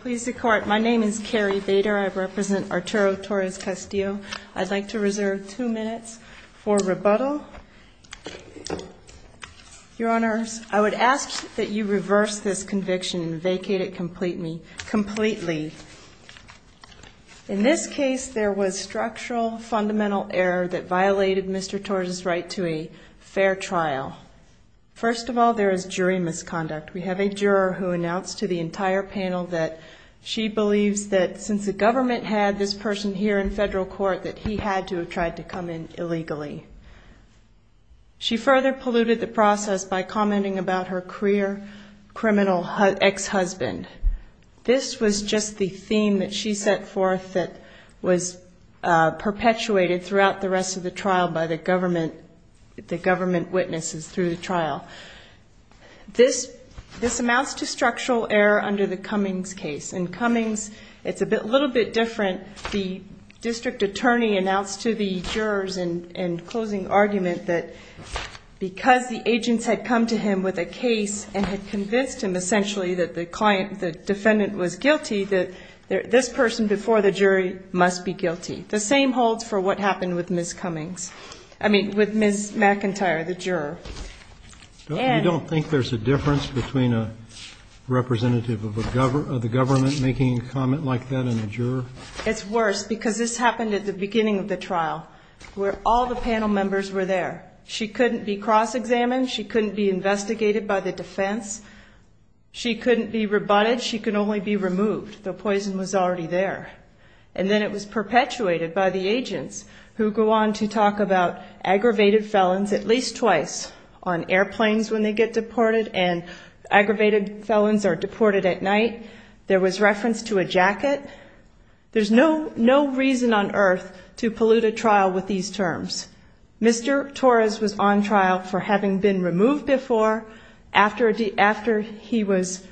Please the court. My name is Carrie Bader. I represent Arturo Torres-Castillo. I'd like to reserve two minutes for rebuttal Your honors I would ask that you reverse this conviction and vacate it completely In this case there was structural fundamental error that violated mr. Torres's right to a fair trial First of all there is jury misconduct We have a juror who announced to the entire panel that She believes that since the government had this person here in federal court that he had to have tried to come in illegally She further polluted the process by commenting about her career criminal ex-husband this was just the theme that she set forth that was Perpetuated throughout the rest of the trial by the government The government witnesses through the trial this This amounts to structural error under the cummings case in cummings. It's a bit little bit different the district attorney announced to the jurors in in closing argument that because the agents had come to him with a case and had convinced him essentially that the client the defendant was guilty that This person before the jury must be guilty the same holds for what happened with ms. Cummings I mean with ms. McIntyre the juror you don't think there's a difference between a Representative of a government of the government making a comment like that in a juror It's worse because this happened at the beginning of the trial where all the panel members were there She couldn't be cross-examined. She couldn't be investigated by the defense She couldn't be rebutted she could only be removed the poison was already there And then it was perpetuated by the agents who go on to talk about aggravated felons at least twice On airplanes when they get deported and aggravated felons are deported at night. There was reference to a jacket There's no no reason on earth to pollute a trial with these terms Mr. Torres was on trial for having been removed before after after he was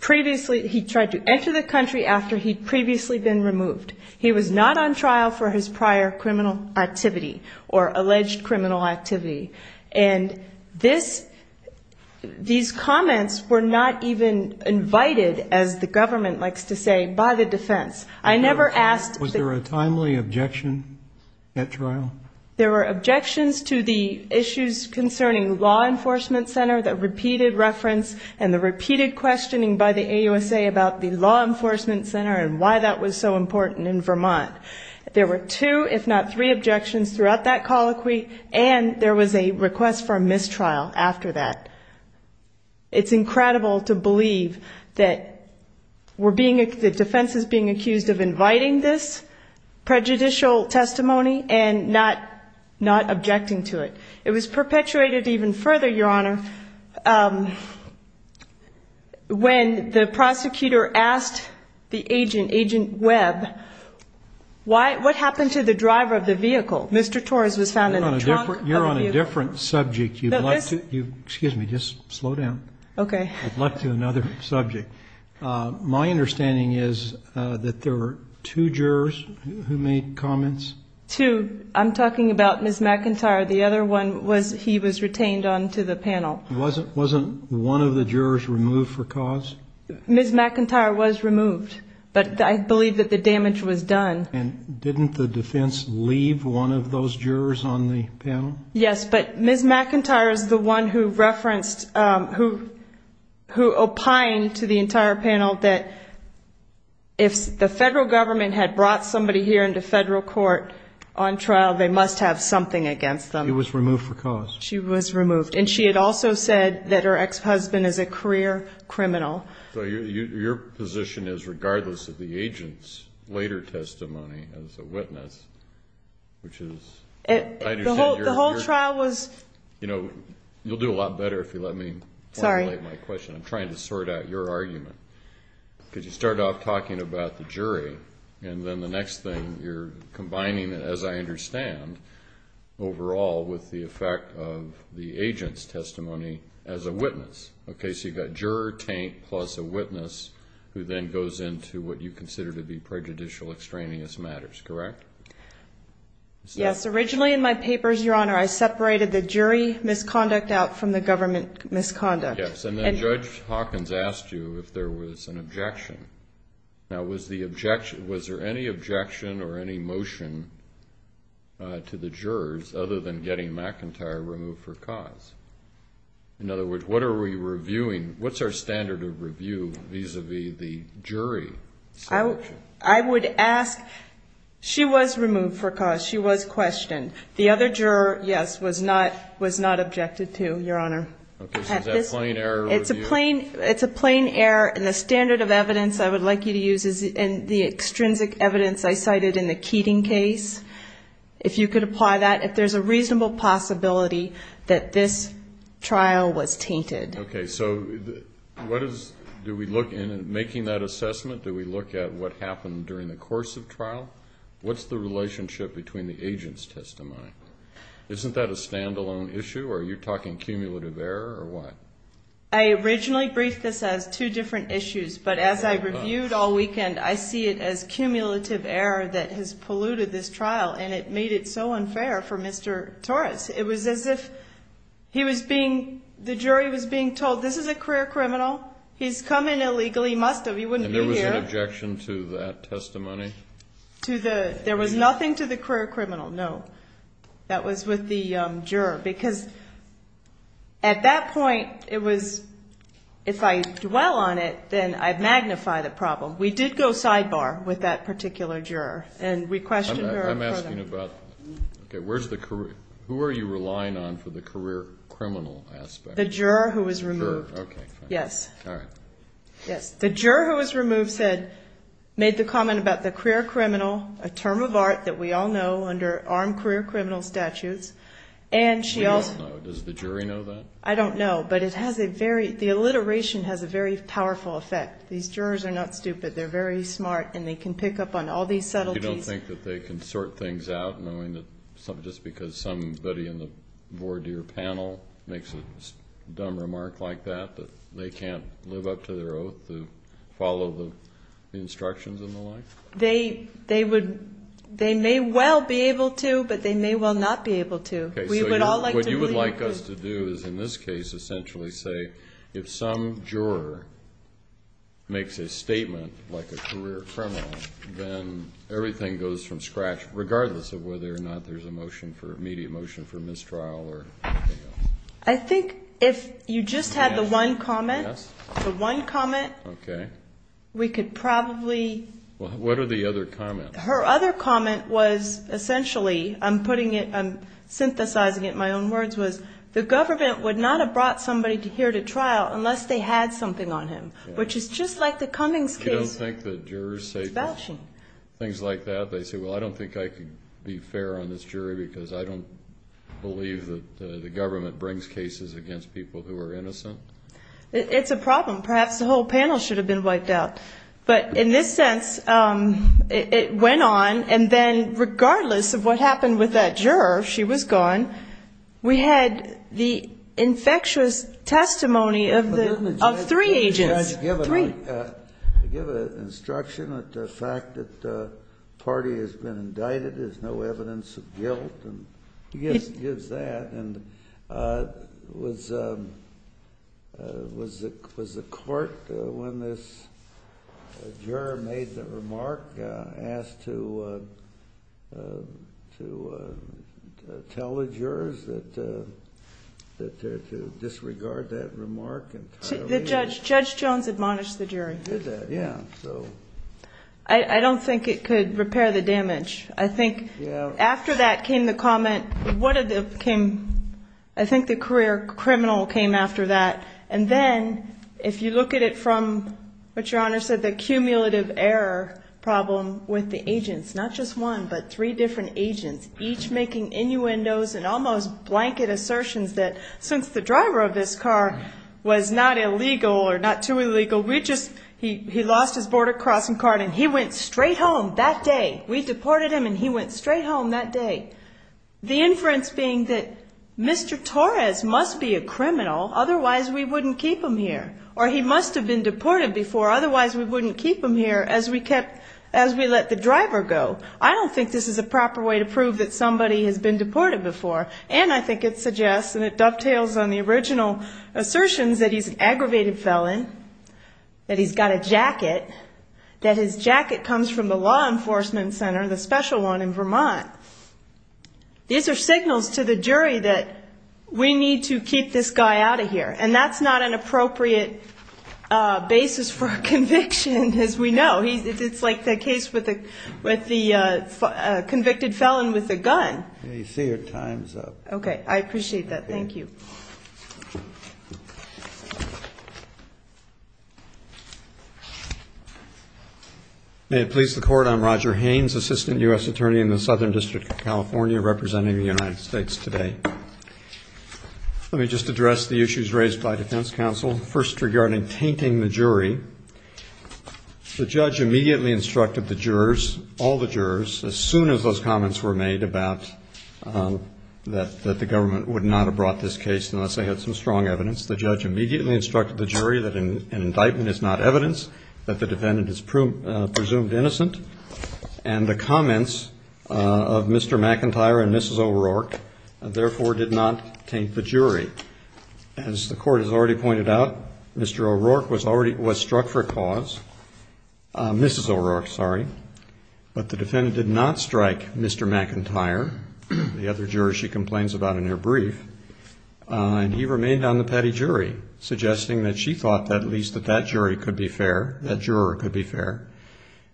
Previously, he tried to enter the country after he'd previously been removed He was not on trial for his prior criminal activity or alleged criminal activity and this These comments were not even invited as the government likes to say by the defense I never asked was there a timely objection? At trial there were objections to the issues concerning law enforcement center that repeated reference And the repeated questioning by the ausa about the law enforcement center and why that was so important in vermont There were two if not three objections throughout that colloquy and there was a request for a mistrial after that it's incredible to believe that We're being the defense is being accused of inviting this Prejudicial testimony and not not objecting to it. It was perpetuated even further your honor When the prosecutor asked the agent agent web Why what happened to the driver of the vehicle? Mr. Torres was found in the trunk You're on a different subject. You'd like to you. Excuse me. Just slow down. Okay. I'd love to another subject Uh, my understanding is uh that there were two jurors who made comments two I'm talking about miss mcintyre The other one was he was retained on to the panel wasn't wasn't one of the jurors removed for cause Miss mcintyre was removed, but I believe that the damage was done and didn't the defense leave one of those jurors on the panel, yes, but miss mcintyre is the one who referenced, um, who Who opined to the entire panel that? If the federal government had brought somebody here into federal court On trial they must have something against them. It was removed for cause she was removed And she had also said that her ex-husband is a career criminal So your your position is regardless of the agent's later testimony as a witness which is the whole trial was You know, you'll do a lot better if you let me sorry my question i'm trying to sort out your argument Because you start off talking about the jury and then the next thing you're combining it as I understand Overall with the effect of the agent's testimony as a witness Okay, so you've got juror taint plus a witness who then goes into what you consider to be prejudicial extraneous matters, correct? Yes, originally in my papers your honor I separated the jury misconduct out from the government misconduct Yes, and then judge hawkins asked you if there was an objection Now was the objection was there any objection or any motion? Uh to the jurors other than getting mcintyre removed for cause In other words, what are we reviewing? What's our standard of review vis-a-vis the jury? I would ask She was removed for cause she was questioned the other juror. Yes was not was not objected to your honor Okay, is that plain error? It's a plain it's a plain error and the standard of evidence I would like you to use is in the extrinsic evidence. I cited in the keating case If you could apply that if there's a reasonable possibility that this Trial was tainted. Okay, so What is do we look in and making that assessment do we look at what happened during the course of trial What's the relationship between the agent's testimony? Isn't that a standalone issue? Are you talking cumulative error or what? I originally briefed this as two different issues but as I reviewed all weekend I see it as cumulative error that has polluted this trial and it made it so unfair for mr. Torres. It was as if He was being the jury was being told this is a career criminal He's come in illegally must have he wouldn't be there was an objection to that testimony To the there was nothing to the career criminal. No that was with the um juror because At that point it was If I dwell on it, then I'd magnify the problem. We did go sidebar with that particular juror and we questioned her Okay, where's the career who are you relying on for the career criminal aspect the juror who was removed? Yes All right Yes, the juror who was removed said Made the comment about the career criminal a term of art that we all know under armed career criminal statutes And she also does the jury know that I don't know but it has a very the alliteration has a very powerful effect These jurors are not stupid They're very smart and they can pick up on all these subtleties. You don't think that they can sort things out knowing that just because somebody in the voir dire panel makes a Dumb remark like that that they can't live up to their oath to follow the instructions and the like they they would They may well be able to but they may well not be able to okay We would all like what you would like us to do is in this case essentially say if some juror Makes a statement like a career criminal then everything goes from scratch regardless of whether or not there's a motion for immediate motion for mistrial or I think if you just had the one comment the one comment, okay We could probably well, what are the other comments her other comment was essentially i'm putting it i'm Synthesizing it my own words was the government would not have brought somebody to here to trial unless they had something on him Which is just like the cummings case. I don't think the jurors say Things like that. They say well, I don't think I could be fair on this jury because I don't Believe that the government brings cases against people who are innocent It's a problem. Perhaps the whole panel should have been wiped out. But in this sense, um, It went on and then regardless of what happened with that juror. She was gone we had the Infectious testimony of the of three agents Give an instruction that the fact that the party has been indicted. There's no evidence of guilt and he just gives that and uh was um Was it was the court when this Juror made the remark asked to To tell the jurors that That to disregard that remark and the judge judge jones admonished the jury did that yeah, so I I don't think it could repair the damage. I think After that came the comment. What did the came? I think the career criminal came after that and then If you look at it from what your honor said the cumulative error Problem with the agents not just one but three different agents each making innuendos and almost blanket assertions that Since the driver of this car Was not illegal or not too illegal We just he he lost his border crossing card and he went straight home that day We deported him and he went straight home that day the inference being that Mr. Torres must be a criminal. Otherwise, we wouldn't keep him here or he must have been deported before Otherwise, we wouldn't keep him here as we kept as we let the driver go I don't think this is a proper way to prove that somebody has been deported before and I think it suggests and it dovetails on the original Assertions that he's an aggravated felon That he's got a jacket That his jacket comes from the law enforcement center the special one in vermont These are signals to the jury that we need to keep this guy out of here and that's not an appropriate Uh basis for a conviction as we know he's it's like the case with the with the uh, Convicted felon with a gun. Yeah, you see your time's up. Okay. I appreciate that. Thank you May it please the court i'm roger haynes assistant u.s attorney in the southern district of california representing the united states today Let me just address the issues raised by defense council first regarding tainting the jury The judge immediately instructed the jurors all the jurors as soon as those comments were made about That that the government would not have brought this case unless they had some strong evidence The judge immediately instructed the jury that an indictment is not evidence that the defendant is presumed innocent and the comments Uh of mr. McIntyre and mrs. O'rourke Therefore did not taint the jury As the court has already pointed out. Mr. O'rourke was already was struck for cause Uh, mrs. O'rourke. Sorry But the defendant did not strike. Mr. McIntyre The other jurors she complains about in their brief And he remained on the petty jury suggesting that she thought that at least that that jury could be fair that juror could be fair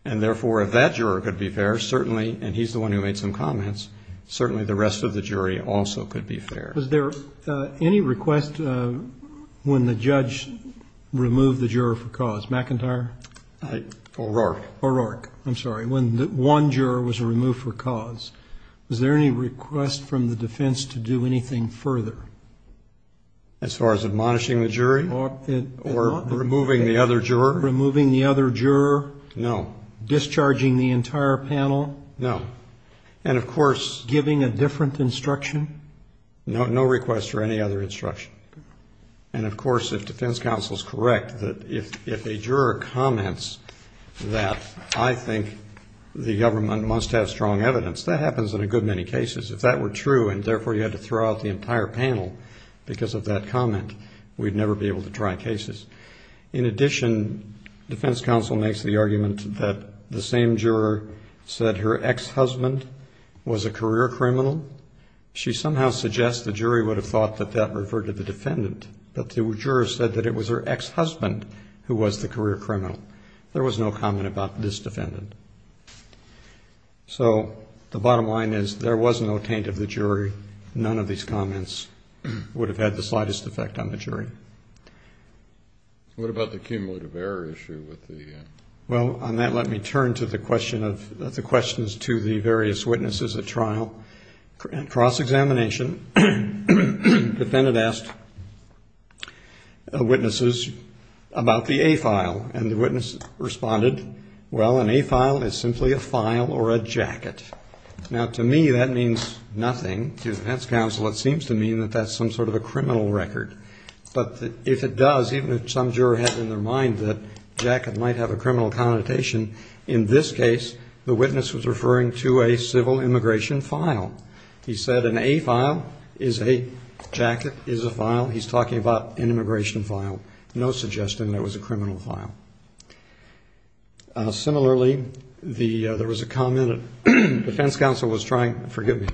And therefore if that juror could be fair certainly and he's the one who made some comments Certainly the rest of the jury also could be fair was there any request when the judge Removed the juror for cause McIntyre O'rourke O'rourke. I'm sorry when the one juror was removed for cause Was there any request from the defense to do anything further? As far as admonishing the jury or or removing the other juror removing the other juror No Discharging the entire panel. No And of course giving a different instruction No, no request for any other instruction And of course if defense counsel is correct that if if a juror comments that I think The government must have strong evidence that happens in a good many cases if that were true And therefore you had to throw out the entire panel because of that comment. We'd never be able to try cases in addition Defense counsel makes the argument that the same juror said her ex-husband Was a career criminal She somehow suggests the jury would have thought that that referred to the defendant But the juror said that it was her ex-husband who was the career criminal. There was no comment about this defendant So the bottom line is there was no taint of the jury none of these comments Would have had the slightest effect on the jury What about the cumulative error issue with the Well on that let me turn to the question of the questions to the various witnesses at trial cross-examination defendant asked Witnesses About the a file and the witness responded. Well an a file is simply a file or a jacket Now to me that means nothing to the defense counsel. It seems to mean that that's some sort of a criminal record But if it does even if some juror has in their mind that Jacket might have a criminal connotation in this case. The witness was referring to a civil immigration file he said an a file is a Jacket is a file. He's talking about an immigration file. No suggestion. That was a criminal file Similarly the there was a comment defense counsel was trying forgive me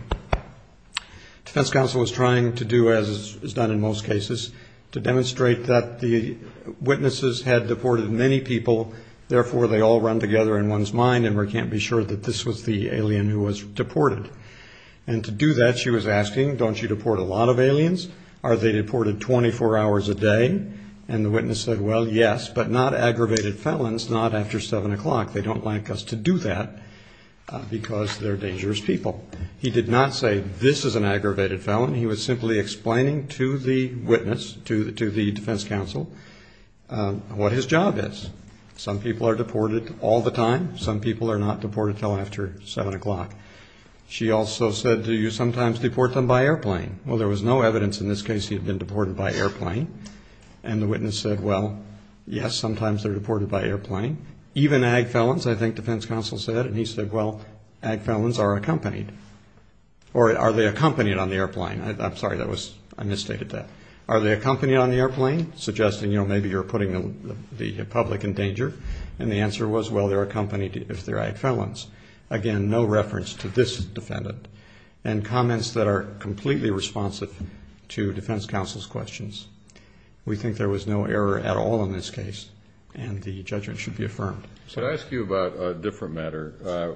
Defense counsel was trying to do as is done in most cases to demonstrate that the Witnesses had deported many people Therefore they all run together in one's mind and we can't be sure that this was the alien who was deported And to do that she was asking don't you deport a lot of aliens? Are they deported 24 hours a day? And the witness said well, yes, but not aggravated felons not after seven o'clock. They don't like us to do that Because they're dangerous people he did not say this is an aggravated felon He was simply explaining to the witness to the to the defense counsel What his job is some people are deported all the time. Some people are not deported till after seven o'clock She also said do you sometimes deport them by airplane? Well, there was no evidence in this case He had been deported by airplane And the witness said well Yes, sometimes they're deported by airplane even ag felons I think defense counsel said and he said well ag felons are accompanied Or are they accompanied on the airplane? I'm sorry That was I misstated that are they accompanied on the airplane suggesting, you know Maybe you're putting the the public in danger and the answer was well, they're accompanied if they're ag felons Again, no reference to this defendant And comments that are completely responsive to defense counsel's questions We think there was no error at all in this case And the judgment should be affirmed. So I ask you about a different matter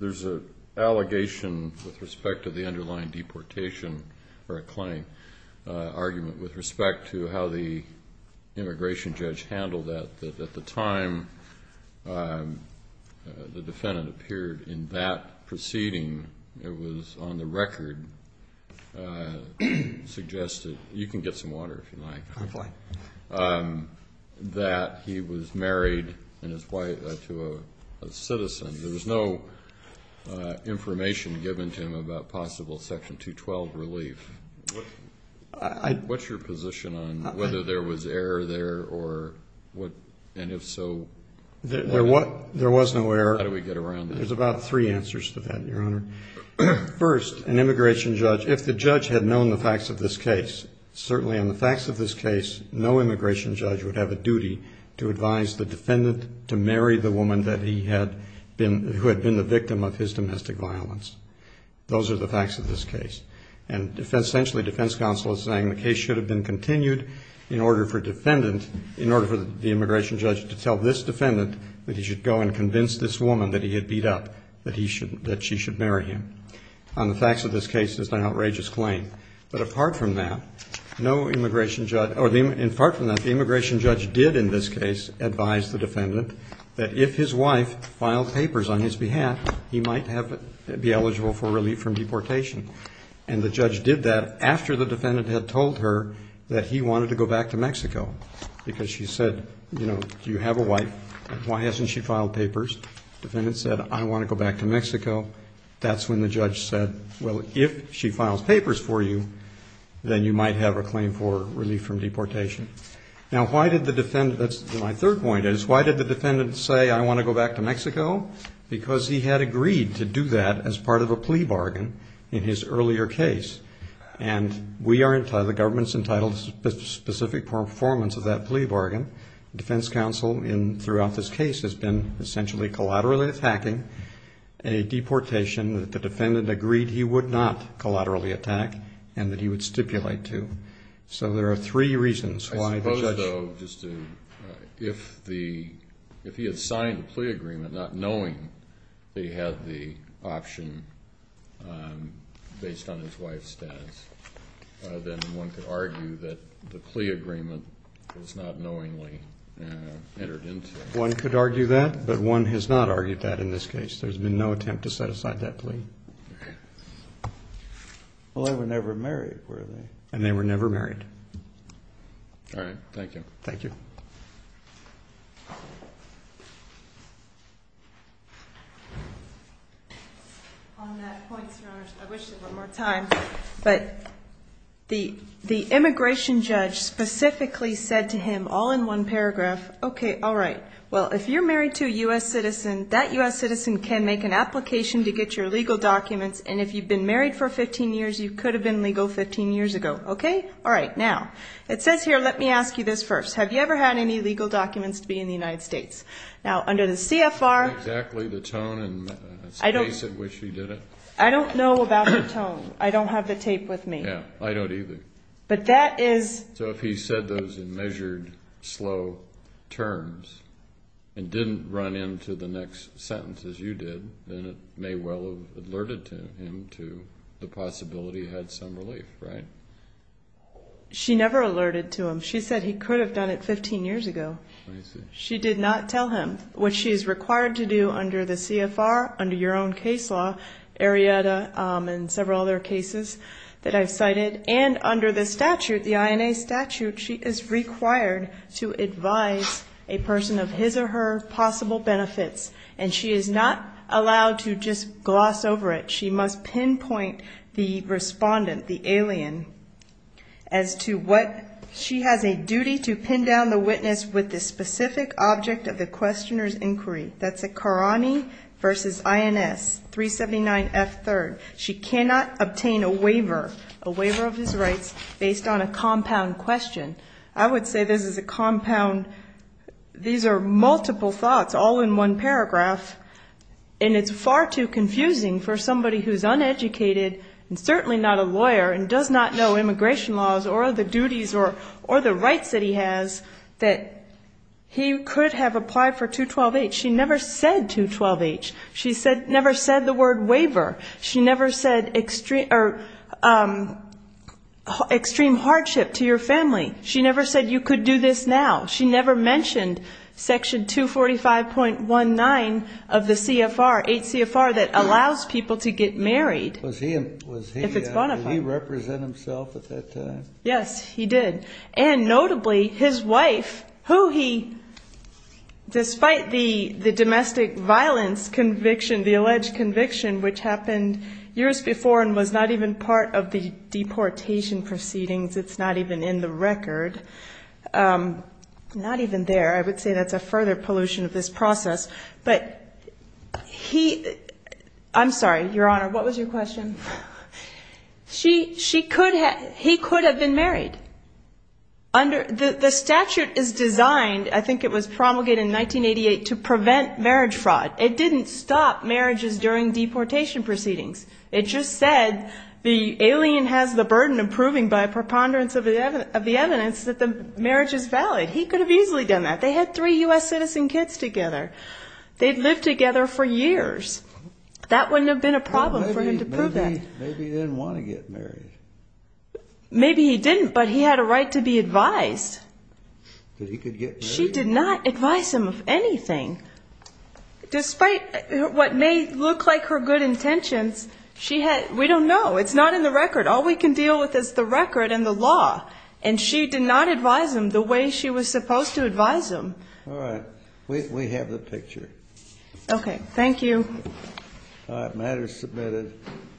There's a allegation with respect to the underlying deportation or a claim argument with respect to how the immigration judge handled that that at the time The defendant appeared in that proceeding it was on the record Uh suggested you can get some water if you like That he was married and his wife to a citizen there was no Information given to him about possible section 212 relief What's your position on whether there was error there or what and if so There what there was no error. How do we get around? There's about three answers to that your honor First an immigration judge if the judge had known the facts of this case Certainly on the facts of this case No immigration judge would have a duty to advise the defendant to marry the woman that he had Been who had been the victim of his domestic violence Those are the facts of this case and defense essentially defense counsel is saying the case should have been continued In order for defendant in order for the immigration judge to tell this defendant That he should go and convince this woman that he had beat up that he should that she should marry him On the facts of this case is an outrageous claim But apart from that no immigration judge or the in part from that the immigration judge did in this case advise the defendant That if his wife filed papers on his behalf, he might have be eligible for relief from deportation And the judge did that after the defendant had told her that he wanted to go back to mexico Because she said, you know, do you have a wife? Why hasn't she filed papers? Defendant said I want to go back to mexico. That's when the judge said well if she files papers for you Then you might have a claim for relief from deportation Now, why did the defendant that's my third point is why did the defendant say I want to go back to mexico? Because he had agreed to do that as part of a plea bargain in his earlier case And we are entitled the government's entitled specific performance of that plea bargain Defense counsel in throughout this case has been essentially collaterally attacking A deportation that the defendant agreed. He would not collaterally attack and that he would stipulate to So there are three reasons why the judge though just to if the If he had signed a plea agreement not knowing They had the option um based on his wife's status Then one could argue that the plea agreement was not knowingly Entered into one could argue that but one has not argued that in this case. There's been no attempt to set aside that plea Well, they were never married were they and they were never married, all right, thank you. Thank you So On that point your honor, I wish there were more time but the the immigration judge Specifically said to him all in one paragraph. Okay. All right Well if you're married to a u.s Citizen that u.s Citizen can make an application to get your legal documents and if you've been married for 15 years You could have been legal 15 years ago. Okay. All right now it says here. Let me ask you this first Have you ever had any legal documents to be in the united states now under the cfr exactly the tone and I don't wish he did it. I don't know about her tone. I don't have the tape with me Yeah, I don't either but that is so if he said those in measured slow terms And didn't run into the next sentence as you did then it may well have alerted to him to the possibility Had some relief, right? She never alerted to him she said he could have done it 15 years ago She did not tell him what she is required to do under the cfr under your own case law Arrieta and several other cases that i've cited and under the statute the ina statute She is required to advise a person of his or her possible benefits And she is not allowed to just gloss over it. She must pinpoint the Correspondent the alien As to what she has a duty to pin down the witness with the specific object of the questioner's inquiry That's a karani Versus ins 379 f 3rd. She cannot obtain a waiver a waiver of his rights based on a compound question I would say this is a compound These are multiple thoughts all in one paragraph And it's far too confusing for somebody who's uneducated And certainly not a lawyer and does not know immigration laws or the duties or or the rights that he has that He could have applied for 212-h. She never said 212-h. She said never said the word waiver. She never said extreme or um Extreme hardship to your family. She never said you could do this now. She never mentioned Section 245.19 of the cfr 8 cfr that allows people to get married Was he was he if it's bonafide he represent himself at that time? Yes, he did and notably his wife who he Despite the the domestic violence conviction the alleged conviction which happened years before and was not even part of the Deportation proceedings. It's not even in the record um Not even there I would say that's a further pollution of this process, but he I'm, sorry, your honor. What was your question? She she could have he could have been married Under the the statute is designed. I think it was promulgated in 1988 to prevent marriage fraud It didn't stop marriages during deportation proceedings It just said The alien has the burden of proving by preponderance of the evidence of the evidence that the marriage is valid He could have easily done that they had three u.s. Citizen kids together They'd live together for years That wouldn't have been a problem for him to prove that maybe he didn't want to get married Maybe he didn't but he had a right to be advised That he could get she did not advise him of anything Despite what may look like her good intentions She had we don't know it's not in the record All we can deal with is the record and the law and she did not advise him the way she was supposed to advise him All right, we have the picture Okay. Thank you All right matters submitted